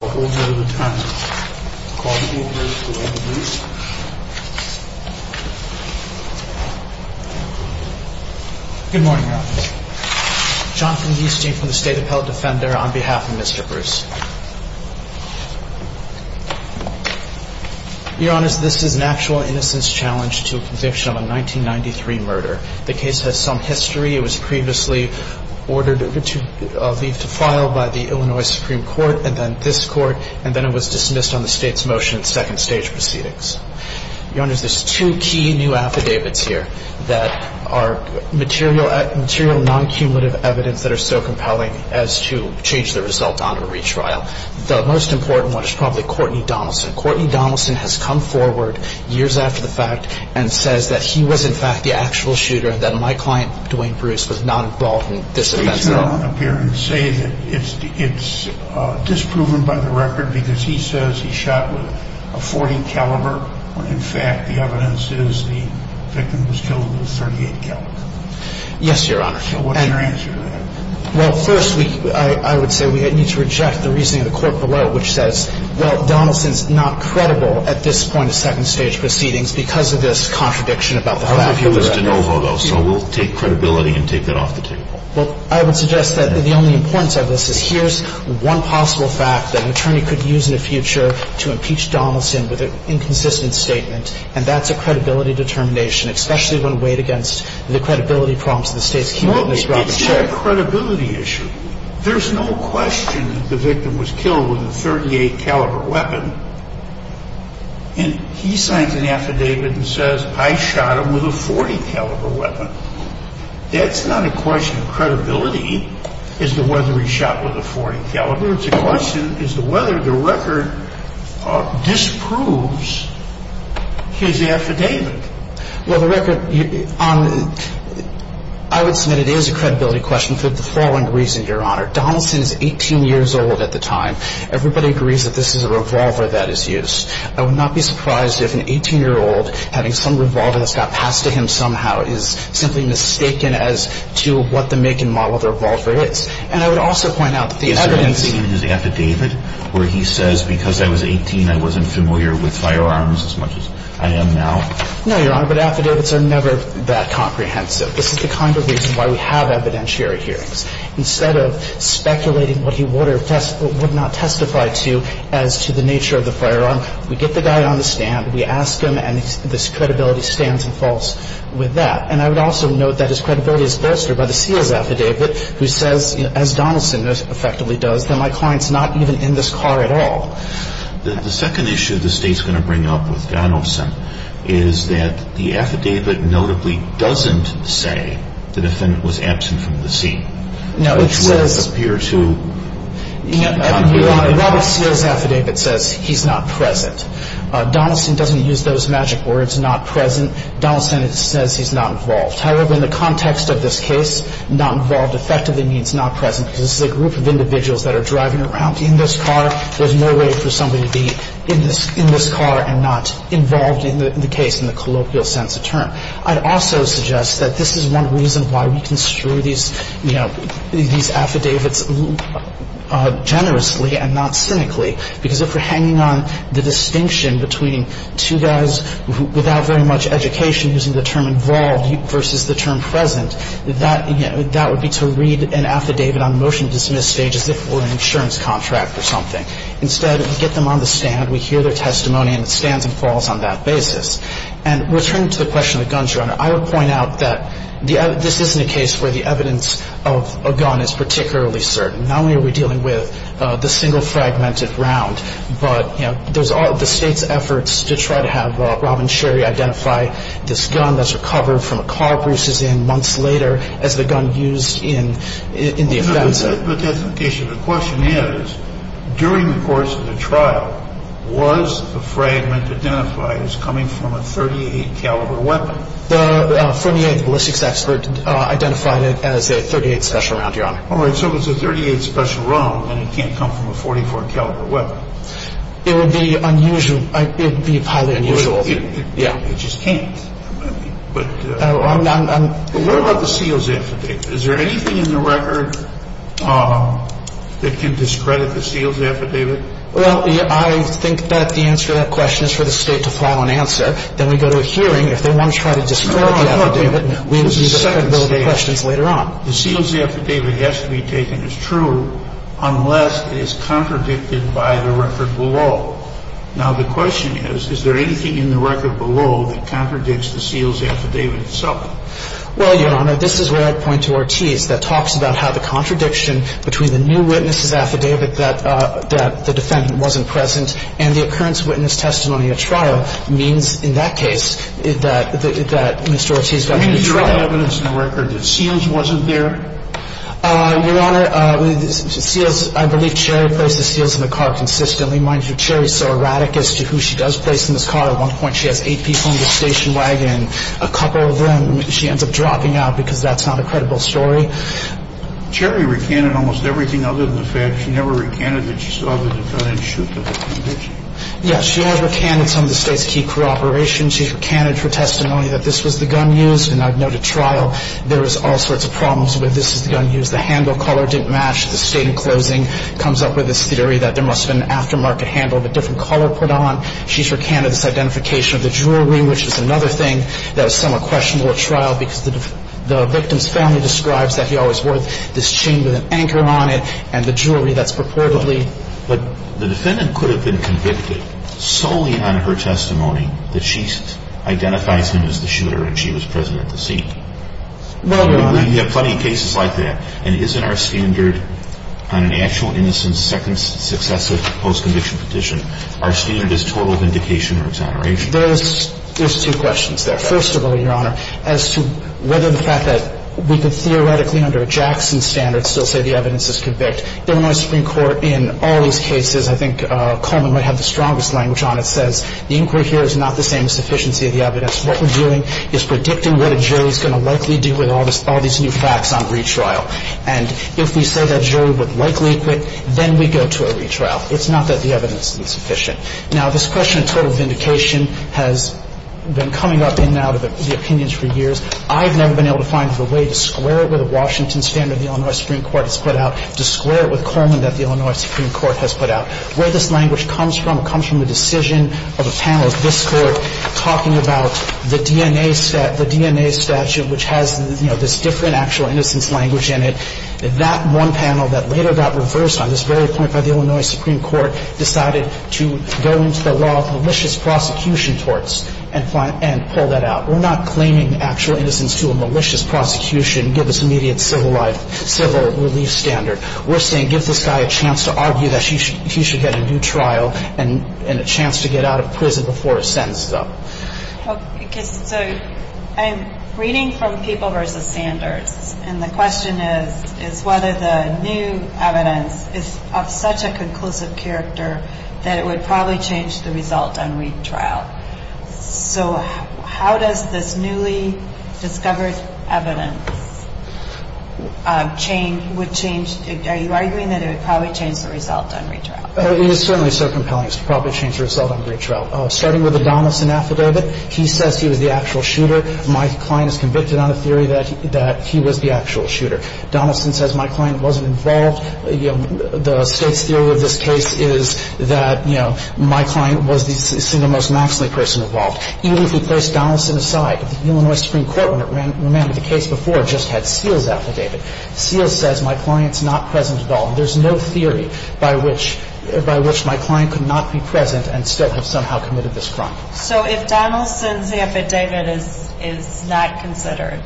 Good morning, Your Honor. Jonathan Easting from the State Appellate Defender on behalf of Mr. Bruce. Your Honor, this is an actual innocence challenge to a conviction of a 1993 murder. The case has some history. It was previously ordered to be filed by the Illinois Supreme Court and then this Court and then it was dismissed on the State's motion and second stage proceedings. Your Honor, there's two key new affidavits here that are material non-cumulative evidence that are so compelling as to change the result on a retrial. The most important one is probably Courtney Donaldson. Courtney Donaldson has come forward years after the fact and says that he was in fact the actual shooter and said, my client, Dwayne Bruce, was not involved in this offense at all. Can you turn around up here and say that it's disproven by the record because he says he shot with a .40 caliber when in fact the evidence is the victim was killed with a .38 caliber? Yes, Your Honor. So what's your answer to that? Well, first I would say we need to reject the reasoning of the court below which says, well, Donaldson's not credible at this point of second stage proceedings because of this contradiction about the fact that he was dead. So I would say we need to reject the reasoning of the court below. So we'll take credibility and take that off the table. Well, I would suggest that the only importance of this is here's one possible fact that an attorney could use in the future to impeach Donaldson with an inconsistent statement, and that's a credibility determination, especially when weighed against the credibility prompts of the State's cumulative misrepresentation. It's not a credibility issue. There's no question that the victim was killed with a .38 caliber weapon. That's not a question of credibility as to whether he shot with a .40 caliber. It's a question as to whether the record disproves his affidavit. Well, the record on the, I would submit it is a credibility question for the following reason, Your Honor. Donaldson is 18 years old at the time. Everybody agrees that this is a revolver that is used. I would not be surprised if an 18-year-old having some revolver that's got passed to him somehow is simply mistaken as to what the make and model of the revolver is. And I would also point out that the evidence he used. Is there anything in his affidavit where he says, because I was 18, I wasn't familiar with firearms as much as I am now? No, Your Honor, but affidavits are never that comprehensive. This is the kind of reason why we have evidentiary hearings. Instead of speculating what he would or would not testify to as to the nature of the firearm, we get the guy on the stand, we ask him, and this credibility stands and falls with that. And I would also note that his credibility is bolstered by the Sears affidavit, who says, as Donaldson effectively does, that my client's not even in this car at all. The second issue the State's going to bring up with Donaldson is that the affidavit notably doesn't say the defendant was absent from the scene. No, it says. Which would appear to. Robert Sears affidavit says he's not present. Donaldson doesn't use those magic words, not present. Donaldson says he's not involved. However, in the context of this case, not involved effectively means not present, because this is a group of individuals that are driving around in this car. There's no way for somebody to be in this car and not involved in the case in the colloquial sense of term. I'd also suggest that this is one reason why we construe these, you know, these cases to be, you know, not present. And I would point out that this is not a case where the evidence of a gun is particularly certain. Not only are we dealing with the single fragmented round, but, you know, there's all the State's efforts to try to have, you know, rather than a single identify this gun that's recovered from a car Bruce is in months later as the gun used in the offensive. But that's not the case here. The question is, during the course of the trial, was the fragment identified as coming from a .38 caliber weapon? The .48 ballistics expert identified it as a .38 special round, Your Honor. All right. So if it's a .38 special round, then it can't come from a .44 caliber weapon. It would be unusual. It would be highly unusual. Yeah. It just can't. But... I'm... What about the SEALS affidavit? Is there anything in the record that can discredit the SEALS affidavit? Well, I think that the answer to that question is for the State to file an answer. Then we go to a hearing. If they want to try to discredit the affidavit... No, no, no. ...we can use a second bill of questions later on. The SEALS affidavit has to be taken as true unless it is contradicted by the record below. Now, the question is, is there anything in the record below that contradicts the SEALS affidavit itself? Well, Your Honor, this is where I point to Ortiz. That talks about how the contradiction between the new witness's affidavit that the defendant wasn't present and the occurrence witness testimony at trial means, in that case, that Mr. Ortiz... I mean, is there any evidence in the record that SEALS wasn't there? Your Honor, I believe Cherry placed the SEALS in the car consistently. Mind you, Cherry is so erratic as to who she does place in this car. At one point, she has eight people in the station wagon. A couple of them she ends up dropping out because that's not a credible story. Cherry recanted almost everything other than the fact she never recanted that she saw the gun and shot the defendant. Yes, she has recanted some of the State's key cooperation. She's recanted her testimony that this was the gun used, and I've noted trial. There was all sorts of problems with this gun used. The handle color didn't match. The State, in closing, comes up with this theory that there must have been an aftermarket handle of a different color put on. She's recanted this identification of the jewelry, which is another thing that is somewhat questionable at trial because the victim's family describes that he always wore this chain with an anchor on it and the jewelry that's purportedly... But the defendant could have been convicted solely on her testimony that she identifies him as the shooter and she was present at the scene. Well, Your Honor... I mean, we have plenty of cases like that, and isn't our standard on an actual innocent second successive post-conviction petition, our standard is total vindication or exoneration? There's two questions there. First of all, Your Honor, as to whether the fact that we could theoretically under Jackson's standards still say the evidence is convict, Illinois Supreme Court in all these cases, I think Coleman might have the strongest language on it, says the inquiry here is not the same as sufficiency of the evidence. What we're doing is predicting what a jury's going to likely do with all these new facts on retrial. And if we say that jury would likely acquit, then we go to a retrial. It's not that the evidence is insufficient. Now, this question of total vindication has been coming up in and out of the opinions for years. I've never been able to find the way to square it with a Washington standard the Illinois Supreme Court has put out, to square it with Coleman that the Illinois Supreme Court has put out. Where this language comes from, it comes from the decision of a panel of this Court talking about the DNA statute, which has, you know, this different actual innocence language in it. That one panel that later got reversed on this very point by the Illinois Supreme Court decided to go into the law with malicious prosecution torts and pull that out. We're not claiming actual innocence to a malicious prosecution, give us immediate civil life, civil relief standard. We're saying give this guy a chance to argue that he should get a new trial and a chance to get out of prison before his sentence is up. Okay. So I'm reading from People v. Sanders, and the question is, is whether the new evidence is of such a conclusive character that it would probably change the result on retrial. So how does this newly discovered evidence change, would change, are you arguing that it would probably change the result on retrial? It is certainly so compelling it would probably change the result on retrial. Starting with the Donaldson affidavit, he says he was the actual shooter. My client is convicted on a theory that he was the actual shooter. Donaldson says my client wasn't involved. The State's theory of this case is that, you know, my client was the single most maxly person involved. Even if we place Donaldson aside, the Illinois Supreme Court, remember the case before, just had Seals' affidavit. Seals says my client's not present at all. There's no theory by which my client could not be present and still have somehow committed this crime. So if Donaldson's affidavit is not considered,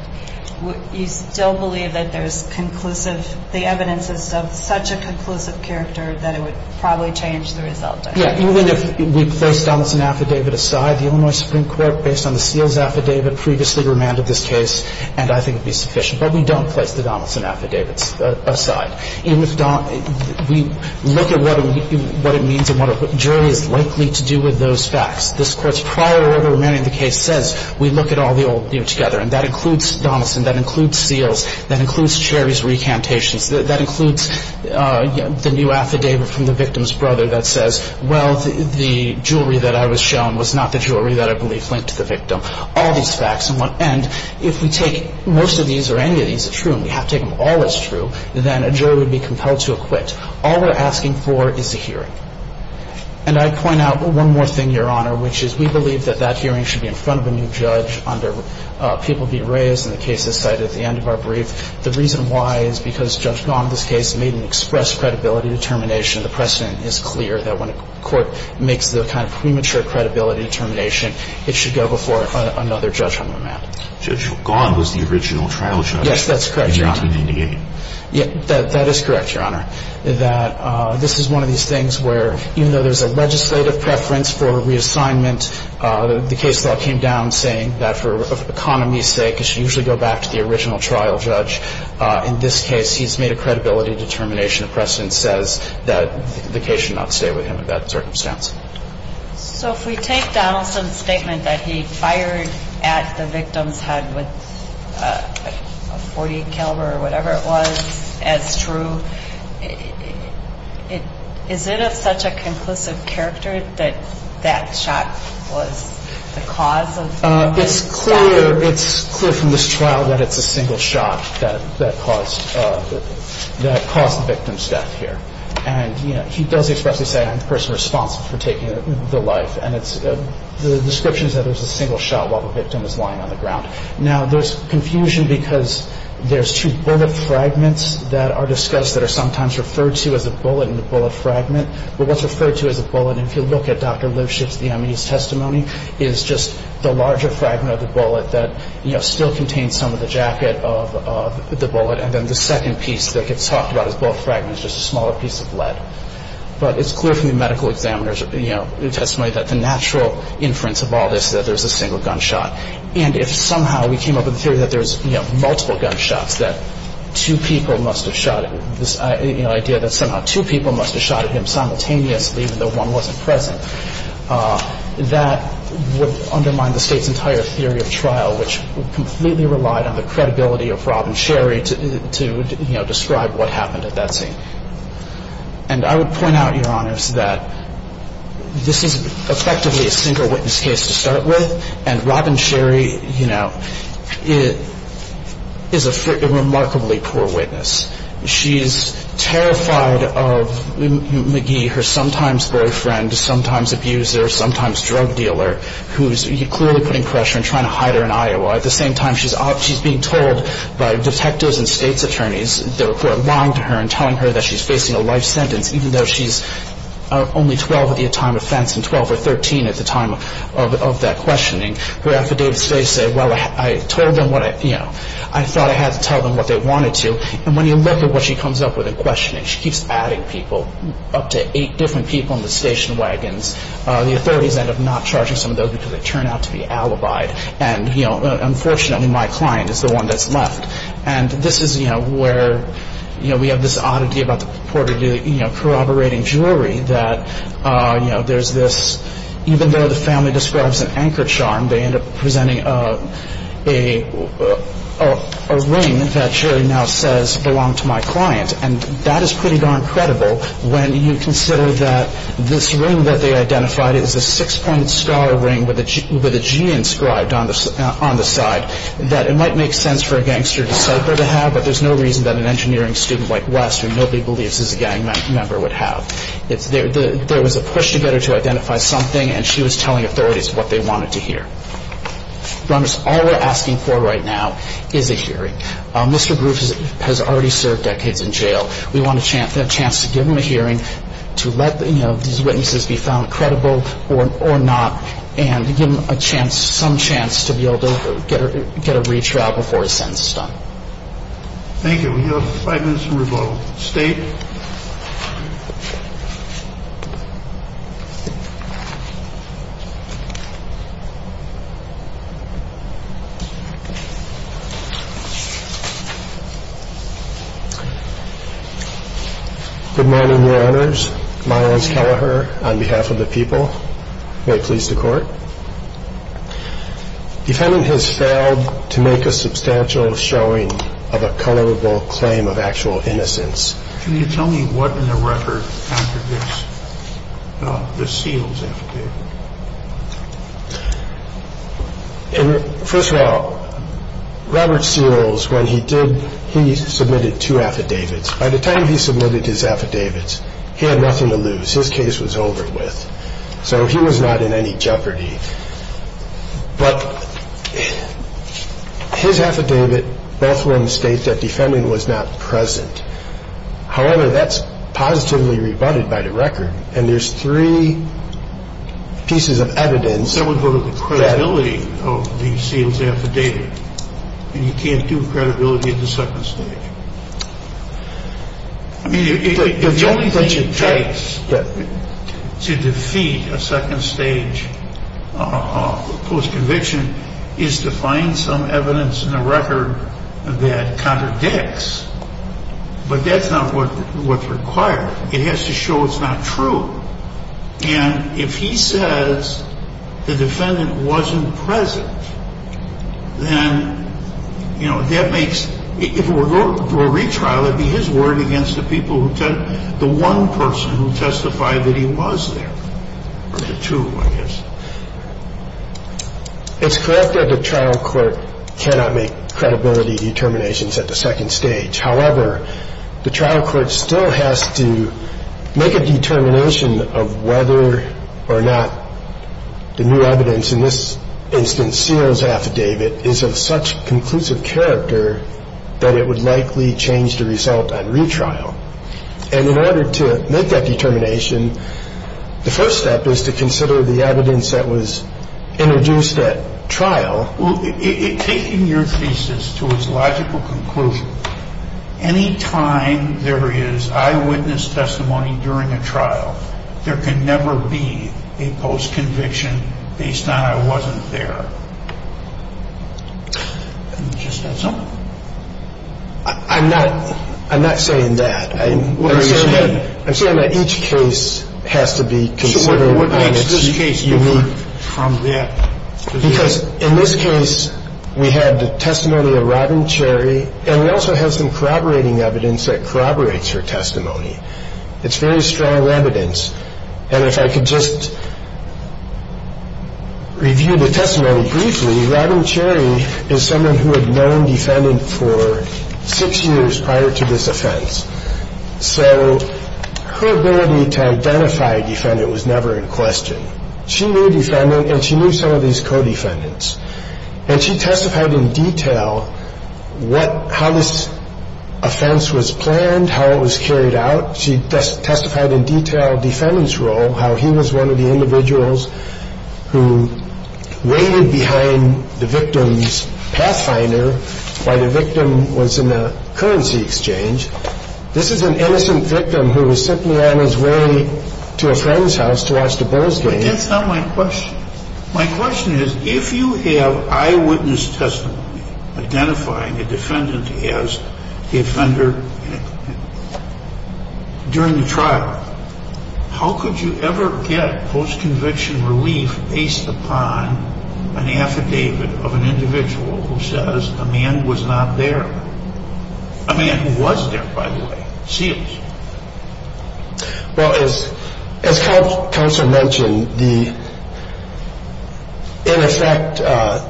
you still believe that there's conclusive, the evidence is of such a conclusive character that it would probably change the result on retrial? Yeah. Even if we place Donaldson's affidavit aside, the Illinois Supreme Court, based on the Seals' affidavit, previously remanded this case, and I think it would have been sufficient. But we don't place the Donaldson affidavits aside. We look at what it means and what a jury is likely to do with those facts. This Court's prior order remanding the case says we look at all the old together. And that includes Donaldson. That includes Seals. That includes Cherry's recantations. That includes the new affidavit from the victim's brother that says, well, the jewelry that I was shown was not the jewelry that I believe linked to the victim. All these facts. And if we take most of these or any of these as true, and we have to take them all as true, then a jury would be compelled to acquit. All we're asking for is a hearing. And I'd point out one more thing, Your Honor, which is we believe that that hearing should be in front of a new judge under people be raised in the case as cited at the end of our brief. The reason why is because Judge Gaunt in this case made an express credibility determination. The precedent is clear that when a court makes the kind of premature credibility determination, it should go before another judge on the matter. Judge Gaunt was the original trial judge. Yes, that's correct, Your Honor. In 1998. That is correct, Your Honor. That this is one of these things where even though there's a legislative preference for reassignment, the case law came down saying that for economy's sake, it should usually go back to the original trial judge. In this case, he's made a credibility determination. The precedent says that the case should not stay with him in that circumstance. So if we take Donaldson's statement that he fired at the victim's head with a .40 caliber or whatever it was as true, is it of such a conclusive character that that shot was the cause of the victim's death? It's clear from this trial that it's a single shot that caused the victim's death here. And he does expressly say, I'm the person responsible for taking the life. And the description is that it was a single shot while the victim was lying on the ground. Now, there's confusion because there's two bullet fragments that are discussed that are sometimes referred to as a bullet in the bullet fragment. But what's referred to as a bullet, if you look at Dr. Lipschitz, the M.E.'s testimony, is just the larger fragment of the bullet that still contains some of the jacket of the bullet. And then the second piece that gets talked about as bullet fragments is just a smaller piece of lead. But it's clear from the medical examiner's testimony that the natural inference of all this is that there's a single gunshot. And if somehow we came up with the theory that there's multiple gunshots, that two people must have shot at him simultaneously even though one wasn't present, that would undermine the State's entire theory of trial, which completely relied on the credibility of Rob and Sherry to describe what And I would point out, Your Honors, that this is effectively a single witness case to start with. And Rob and Sherry, you know, is a remarkably poor witness. She's terrified of McGee, her sometimes boyfriend, sometimes abuser, sometimes drug dealer, who's clearly putting pressure and trying to hide her in Iowa. At the same time, she's being told by detectives and State's attorneys that she's facing a life sentence even though she's only 12 at the time of offense and 12 or 13 at the time of that questioning. Her affidavits say, well, I told them what I thought I had to tell them what they wanted to. And when you look at what she comes up with in questioning, she keeps adding people, up to eight different people in the station wagons. The authorities end up not charging some of those because they turn out to be alibied. And, you know, unfortunately my client is the one that's left. And this is, you know, where, you know, we have this oddity about the reporter corroborating jury that, you know, there's this, even though the family describes an anchor charm, they end up presenting a ring that Sherry now says belonged to my client. And that is pretty darn credible when you consider that this ring that they identified is a six-point star ring with a G inscribed on the side, that it might make sense for a gangster to have, but there's no reason that an engineering student like Wes, who nobody believes is a gang member, would have. There was a push to get her to identify something, and she was telling authorities what they wanted to hear. All we're asking for right now is a hearing. Mr. Groove has already served decades in jail. We want a chance to give him a hearing to let, you know, these witnesses be found credible or not, and give him a chance, some chance to be able to get a free trial before his sentence is done. Thank you. We have five minutes to revote. State. Good morning, Your Honors. My name is Keleher on behalf of the people. May it please the Court. Defendant has failed to make a substantial showing of a colorable claim of actual innocence. Can you tell me what in the record contradicts the Seals affidavit? First of all, Robert Seals, when he did, he submitted two affidavits. By the time he submitted his affidavits, he had nothing to lose. His case was over with. So he was not in any jeopardy. But his affidavit, both were in the state that defendant was not present. However, that's positively rebutted by the record. And there's three pieces of evidence. So we go to the credibility of the Seals affidavit. And you can't do credibility at the second stage. I mean, the only thing it takes to defeat a second stage postconviction is to find some evidence in the record that contradicts. But that's not what's required. It has to show it's not true. And if he says the defendant wasn't present, then, you know, that makes, if it were a retrial, it would be his word against the people who, the one person who testified that he was there, or the two, I guess. It's correct that the trial court cannot make credibility determinations at the second stage. However, the trial court still has to make a determination of whether or not the new evidence, in this instance, Seals' affidavit, is of such conclusive character that it would likely change the result on retrial. And in order to make that determination, the first step is to consider the evidence that was introduced at trial. Well, taking your thesis to its logical conclusion, any time there is eyewitness testimony during a trial, there can never be a postconviction based on I wasn't there. Just that's all. I'm not saying that. I'm saying that each case has to be considered. What makes this case unique from that? Because in this case, we had the testimony of Robin Cherry, and we also have some corroborating evidence that corroborates her testimony. It's very strong evidence. And if I could just review the testimony briefly, Robin Cherry is someone who had known defendant for six years prior to this offense. So her ability to identify a defendant was never in question. She knew a defendant, and she knew some of these co-defendants. And she testified in detail how this offense was planned, how it was carried out. She testified in detail of the defendant's role, how he was one of the individuals who waited behind the victim's pathfinder while the victim was in the currency exchange. This is an innocent victim who was simply on his way to a friend's house to watch the Bulls game. But that's not my question. My question is, if you have eyewitness testimony identifying a defendant as the offender during the trial, how could you ever get post-conviction relief based upon an affidavit of an individual who says a man was not there? A man who was there, by the way. Seals. Well, as counsel mentioned, in effect,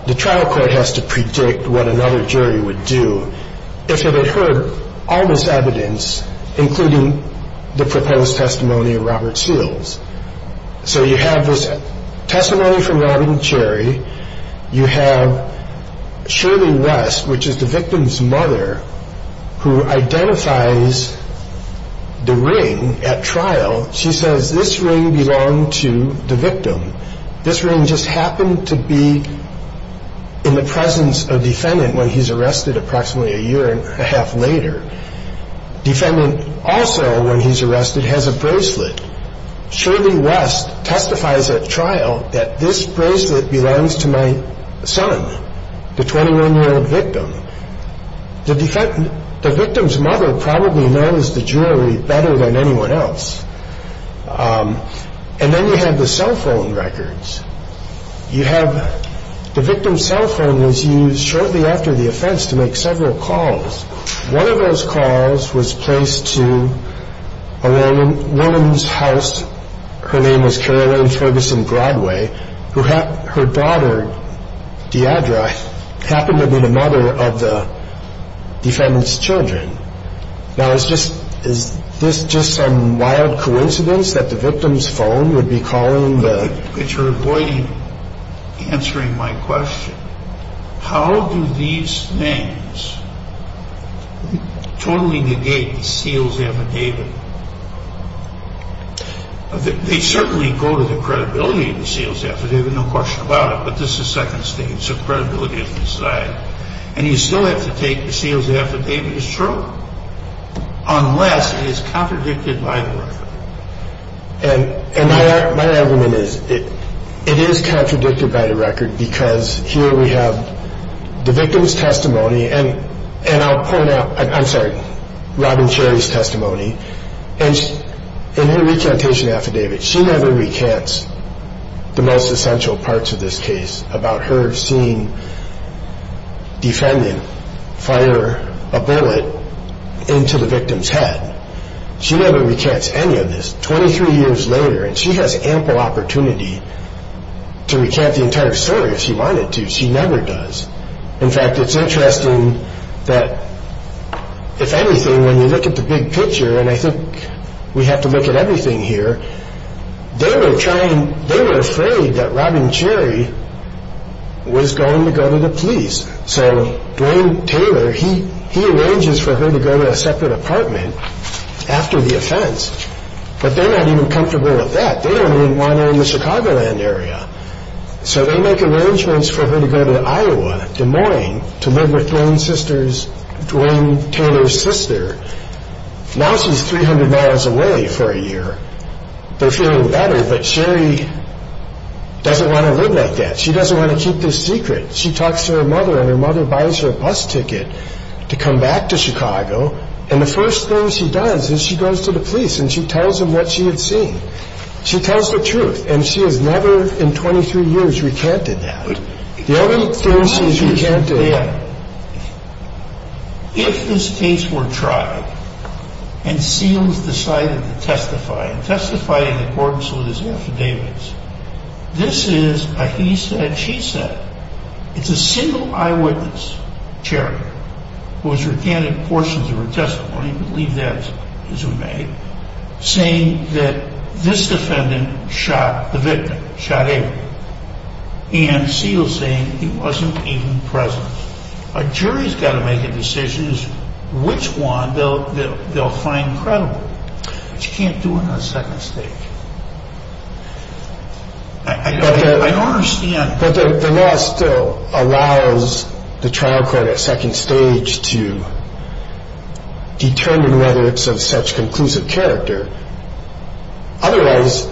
the trial court has to predict what another jury would do if it had heard all this evidence, including the proposed testimony of Robert Seals. So you have this testimony from Robin Cherry. You have Shirley West, which is the victim's mother, who identifies the ring at trial. She says this ring belonged to the victim. This ring just happened to be in the presence of defendant when he's arrested approximately a year and a half later. Defendant also, when he's arrested, has a bracelet. Shirley West testifies at trial that this bracelet belongs to my son, the 21-year-old victim. The victim's mother probably knows the jewelry better than anyone else. And then you have the cell phone records. The victim's cell phone was used shortly after the offense to make several calls. One of those calls was placed to a woman's house. Her name was Caroline Ferguson-Broadway, who had her daughter, Deirdre, happen to be the mother of the defendant's children. Now, is this just some wild coincidence that the victim's phone would be calling the... You're avoiding answering my question. How do these things totally negate the seal's affidavit? They certainly go to the credibility of the seal's affidavit, no question about it, but this is Second State, so credibility is decided. And you still have to take the seal's affidavit as true, unless it is contradicted by the record. And my argument is it is contradicted by the record because here we have the victim's testimony, and I'll point out, I'm sorry, Robin Cherry's testimony, and her recantation affidavit. She never recants the most essential parts of this case about her seeing defendant fire a bullet into the victim's head. She never recants any of this. Twenty-three years later, and she has ample opportunity to recant the entire story if she wanted to. She never does. In fact, it's interesting that, if anything, when you look at the big picture, and I think we have to look at everything here, they were afraid that Robin Cherry was going to go to the police. So Dwayne Taylor, he arranges for her to go to a separate apartment after the offense, but they're not even comfortable with that. They don't even want her in the Chicagoland area. So they make arrangements for her to go to Iowa, Des Moines, to live with Dwayne Taylor's sister. Now she's 300 miles away for a year. They're feeling better, but Cherry doesn't want to live like that. She doesn't want to keep this secret. She talks to her mother, and her mother buys her a bus ticket to come back to Chicago. And the first thing she does is she goes to the police, and she tells them what she had seen. She tells the truth. And she has never in 23 years recanted that. The only thing she has recanted. If this case were tried and Seals decided to testify, and testify in accordance with his affidavits, this is a he said, she said. It's a single eyewitness, Cherry, who has recanted portions of her testimony, believe that as we may, saying that this defendant shot the victim, shot Avery. And Seals saying he wasn't even present. A jury's got to make a decision as to which one they'll find credible. But you can't do it on a second stake. I don't understand. But the law still allows the trial court at second stage to determine whether it's of such conclusive character. Otherwise,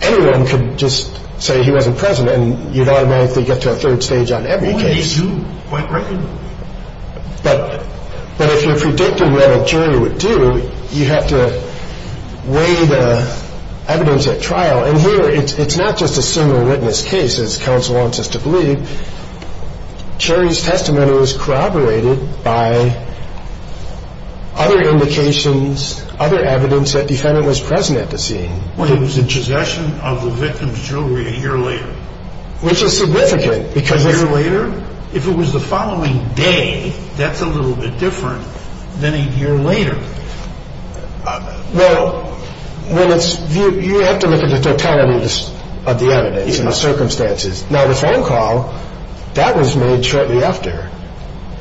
anyone could just say he wasn't present, and you'd automatically get to a third stage on every case. Well, they do quite regularly. But if you're predicting what a jury would do, you have to weigh the evidence at trial. And here, it's not just a single witness case, as counsel wants us to believe. Cherry's testimony was corroborated by other indications, other evidence that defendant was present at the scene. Well, it was a possession of the victim's jewelry a year later. Which is significant. A year later? If it was the following day, that's a little bit different than a year later. Well, you have to look at the totality of the evidence and the circumstances. Now, the phone call, that was made shortly after.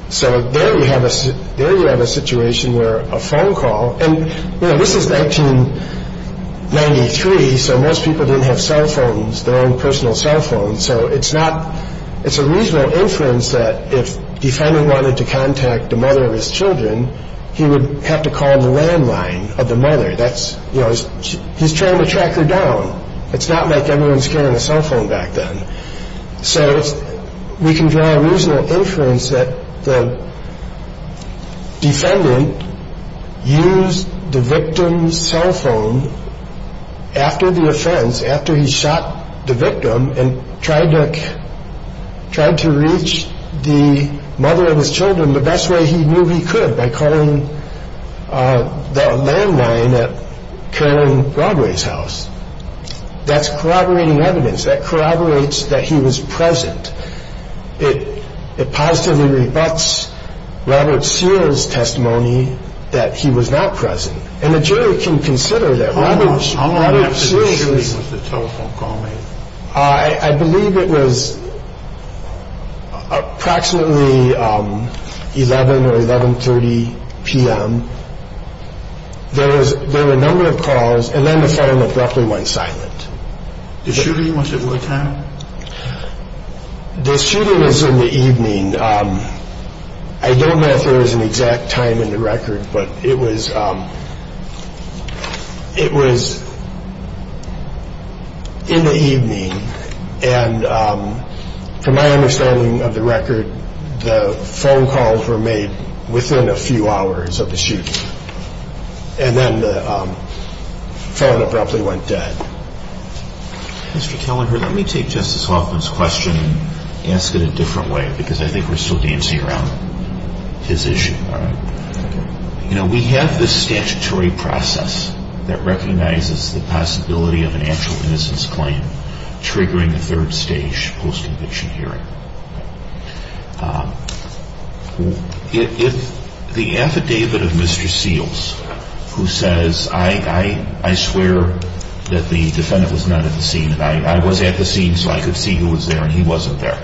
So there you have a situation where a phone call, and this is 1993, so most people didn't have cell phones, their own personal cell phones. So it's a reasonable inference that if the defendant wanted to contact the mother of his children, he would have to call the landline of the mother. He's trying to track her down. It's not like everyone was carrying a cell phone back then. So we can draw a reasonable inference that the defendant used the victim's cell phone after the offense, after he shot the victim, and tried to reach the mother of his children the best way he knew he could, by calling the landline at Carolyn Broadway's house. That's corroborating evidence. That corroborates that he was present. It positively rebuts Robert Sears' testimony that he was not present. And the jury can consider that Robert Sears. When was the telephone call made? I believe it was approximately 11 or 11.30 p.m. There were a number of calls, and then the phone abruptly went silent. The shooting was at what time? The shooting was in the evening. I don't know if there was an exact time in the record, but it was in the evening, and from my understanding of the record, the phone calls were made within a few hours of the shooting. And then the phone abruptly went dead. Mr. Kelleher, let me take Justice Hoffman's question and ask it a different way, because I think we're still dancing around his issue. We have this statutory process that recognizes the possibility of an actual innocence claim triggering a third stage post-conviction hearing. If the affidavit of Mr. Seals, who says, I swear that the defendant was not at the scene. I was at the scene, so I could see who was there, and he wasn't there.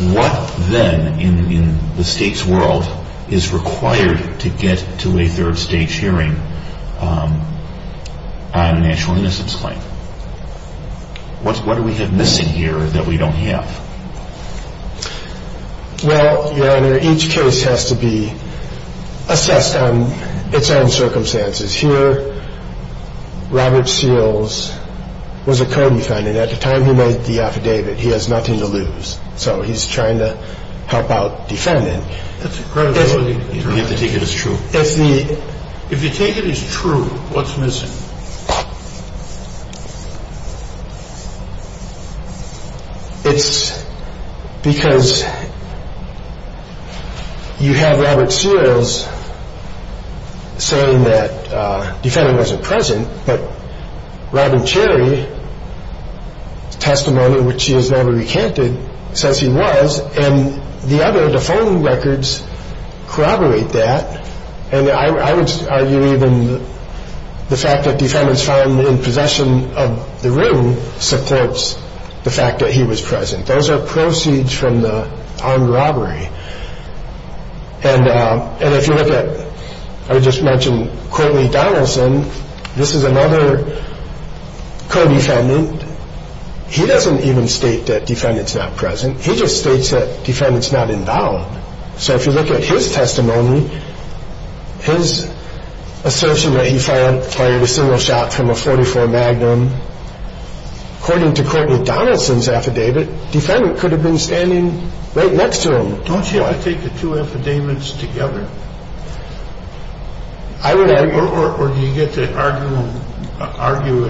What then in the state's world is required to get to a third stage hearing on an actual innocence claim? What do we have missing here that we don't have? Well, Your Honor, each case has to be assessed on its own circumstances. Here, Robert Seals was a co-defendant. At the time he made the affidavit, he has nothing to lose, so he's trying to help out defendant. That's incredible. You have to take it as true. If you take it as true, what's missing? It's because you have Robert Seals saying that the defendant wasn't present, but Robin Cherry's testimony, which he has never recanted, says he was, and the other defaulting records corroborate that. I would argue even the fact that defendants found in possession of the ring supports the fact that he was present. Those are proceeds from the armed robbery. If you look at, I just mentioned, Coley Donaldson, this is another co-defendant. He doesn't even state that defendant's not present. He just states that defendant's not involved. So if you look at his testimony, his assertion that he fired a single shot from a .44 Magnum, according to Coley Donaldson's affidavit, defendant could have been standing right next to him. Don't you have to take the two affidavits together? Or do you get to argue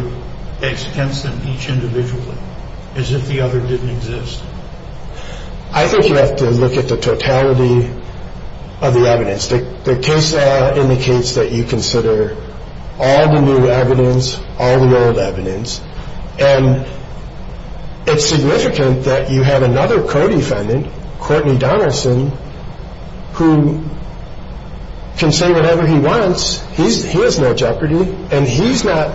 against them each individually, as if the other didn't exist? I think you have to look at the totality of the evidence. The case indicates that you consider all the new evidence, all the old evidence, and it's significant that you have another co-defendant, Courtney Donaldson, who can say whatever he wants. He has no jeopardy, and he's not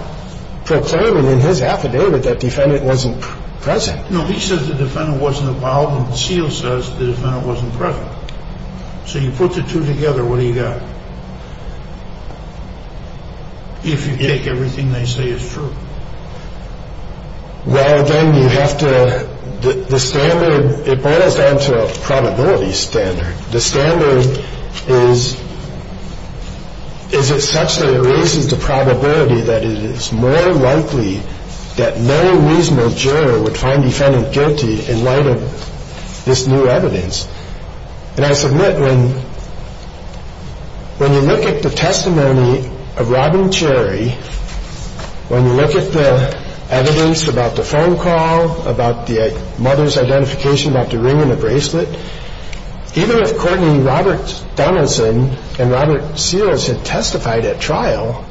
proclaiming in his affidavit that defendant wasn't present. No, he says the defendant wasn't involved, and Seals says the defendant wasn't present. So you put the two together, what do you got? If you take everything they say as true. Well, then you have to, the standard, it boils down to a probability standard. The standard is, is it such that it raises the probability that it is more likely that no reasonable juror would find defendant guilty in light of this new evidence. And I submit when you look at the testimony of Robin Cherry, when you look at the evidence about the phone call, about the mother's identification, about the ring and the bracelet, even if Courtney, Robert Donaldson, and Robert Seals had testified at trial,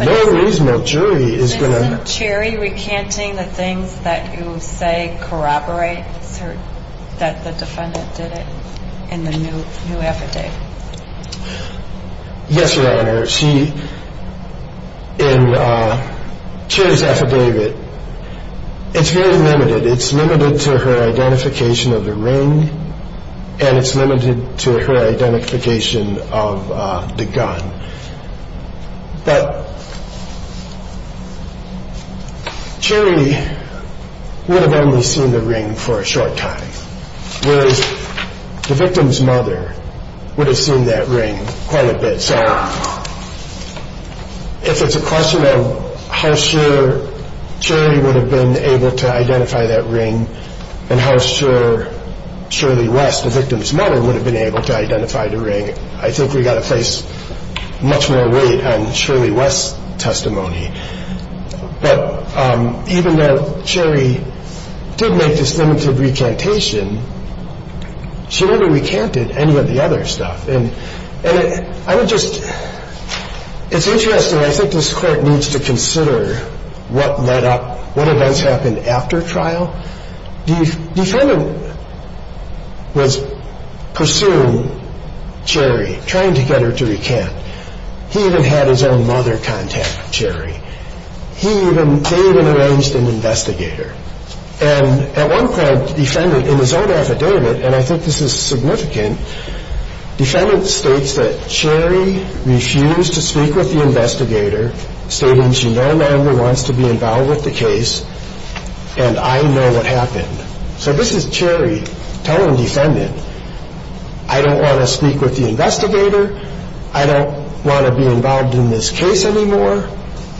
no reasonable jury is going to. Isn't Cherry recanting the things that you say corroborate that the defendant did it in the new affidavit? Yes, Your Honor. She, in Cherry's affidavit, it's very limited. It's limited to her identification of the ring, and it's limited to her identification of the gun. But Cherry would have only seen the ring for a short time, whereas the victim's mother would have seen that ring quite a bit. So if it's a question of how sure Cherry would have been able to identify that ring and how sure Shirley West, the victim's mother, would have been able to identify the ring, I think we've got to place much more weight on Shirley West's testimony. But even though Cherry did make this limited recantation, she never recanted any of the other stuff. And I would just – it's interesting. I think this Court needs to consider what led up – what events happened after trial. The defendant was pursuing Cherry, trying to get her to recant. He even had his own mother contact Cherry. He even – they even arranged an investigator. And at one point, the defendant, in his own affidavit, and I think this is significant, the defendant states that Cherry refused to speak with the investigator, stating she no longer wants to be involved with the case, and I know what happened. So this is Cherry telling the defendant, I don't want to speak with the investigator, I don't want to be involved in this case anymore,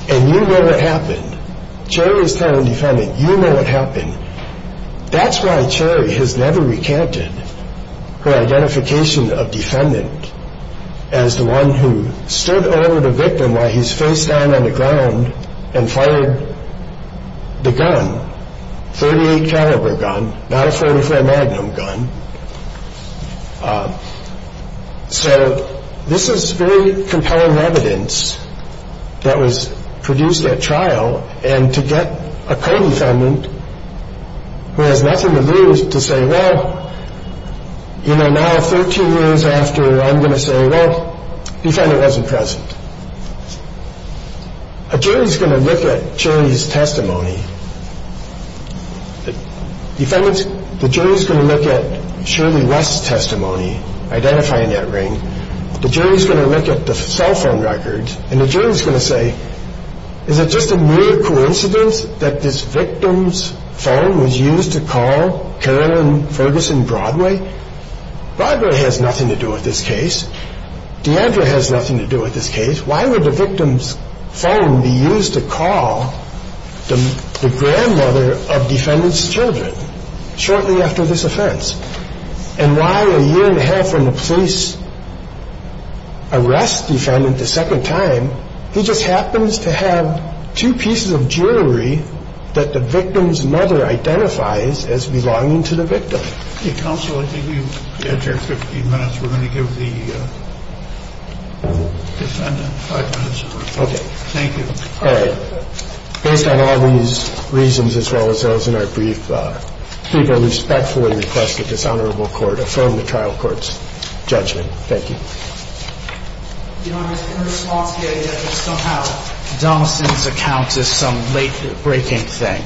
and you know what happened. Cherry is telling the defendant, you know what happened. That's why Cherry has never recanted her identification of defendant as the one who stood over the victim while he's face down on the ground and fired the gun, .38 caliber gun, not a .44 Magnum gun. So this is very compelling evidence that was produced at trial, and to get a co-defendant who has nothing to lose to say, well, you know, now 13 years after, I'm going to say, well, the defendant wasn't present. A jury is going to look at Cherry's testimony. The jury is going to look at Shirley West's testimony, identifying that ring. The jury is going to look at the cell phone records, and the jury is going to say, is it just a mere coincidence that this victim's phone was used to call Carolyn Ferguson Broadway? Broadway has nothing to do with this case. DeAndre has nothing to do with this case. Why would the victim's phone be used to call the grandmother of defendant's children shortly after this offense? And why a year and a half from the police arrest defendant the second time, he just happens to have two pieces of jewelry that the victim's mother identifies as belonging to the victim. So this is a very compelling evidence. And I think it's a very compelling evidence, and I think it's a very compelling evidence. Council, I think you've had your 15 minutes. We're going to give the defendant five minutes of record. Thank you. Based on all these reasons, as well as those in our brief, I think I respectfully request that this honorable court affirm the trial court's judgment. Thank you. Your Honor, in response to the evidence, somehow Donaldson's account is some late-breaking thing.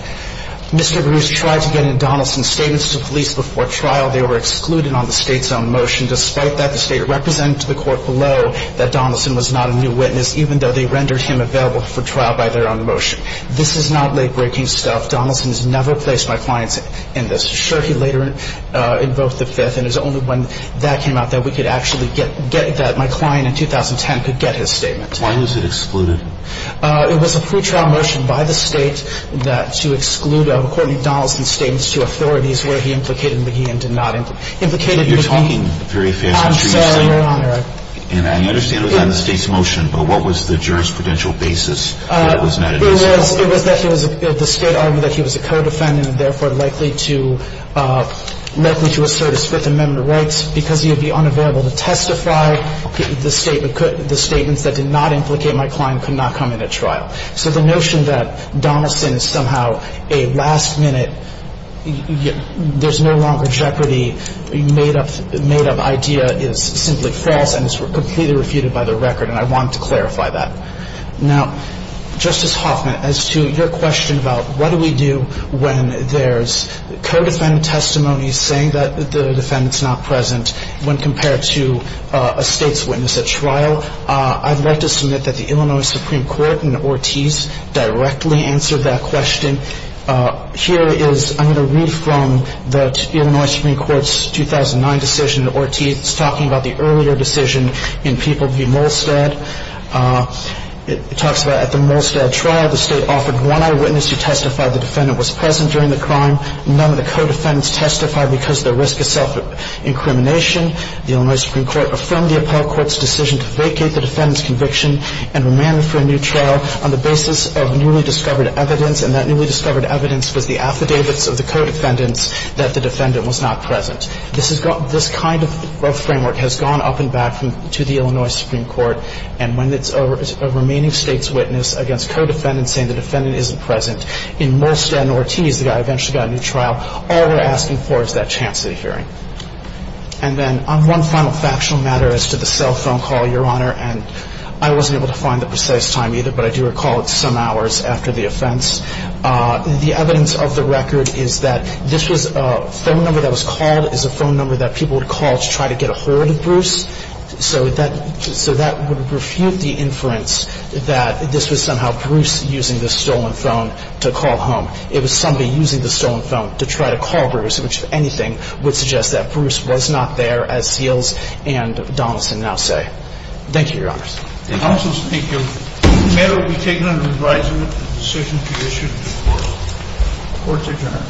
Mr. Bruce tried to get into Donaldson's statements to police before trial. They were excluded on the State's own motion. Despite that, the State represented to the court below that Donaldson was not a new witness, even though they rendered him available for trial by their own motion. This is not late-breaking stuff. Donaldson has never placed my clients in this. Sure, he later invoked the Fifth, and it was only when that came out that we could actually get that. My client in 2010 could get his statement. Why was it excluded? It was a pretrial motion by the State to exclude Courtney Donaldson's statements to authorities where he implicated McGee and did not implicate McGee. You're talking very fast. I'm sorry, Your Honor. And I understand it was on the State's motion, but what was the jurisprudential basis that it was not admissible? It was that the State argued that he was a co-defendant and, therefore, likely to assert his Fifth Amendment rights. Because he would be unavailable to testify, the statements that did not implicate my client could not come into trial. So the notion that Donaldson is somehow a last-minute, there's no longer jeopardy, made-up idea is simply false and is completely refuted by the record, and I want to clarify that. Now, Justice Hoffman, as to your question about what do we do when there's co-defendant testimonies saying that the defendant's not present when compared to a State's witness at trial, I'd like to submit that the Illinois Supreme Court in Ortiz directly answered that question. Here is, I'm going to read from the Illinois Supreme Court's 2009 decision in Ortiz talking about the earlier decision in People v. Molstad. It talks about, at the Molstad trial, the State offered one eyewitness to testify the defendant was present during the crime. None of the co-defendants testified because of the risk of self-incrimination. The Illinois Supreme Court affirmed the appellate court's decision to vacate the defendant's conviction and remanded for a new trial on the basis of newly discovered evidence, and that newly discovered evidence was the affidavits of the co-defendants that the defendant was not present. This kind of framework has gone up and back to the Illinois Supreme Court, and when it's a remaining State's witness against co-defendants saying the defendant isn't present, in Molstad and Ortiz, the guy eventually got a new trial, all we're asking for is that chance at a hearing. And then on one final factional matter as to the cell phone call, Your Honor, and I wasn't able to find the precise time either, but I do recall it's some hours after the offense. The evidence of the record is that this was a phone number that was called. It was a phone number that people would call to try to get a hold of Bruce, so that would refute the inference that this was somehow Bruce using the stolen phone to call home. It was somebody using the stolen phone to try to call Bruce, which, if anything, would suggest that Bruce was not there, as Seals and Donaldson now say. Thank you, Your Honors. Counsel's, thank you. The matter will be taken under advisory with the decision to issue this court's adjournment.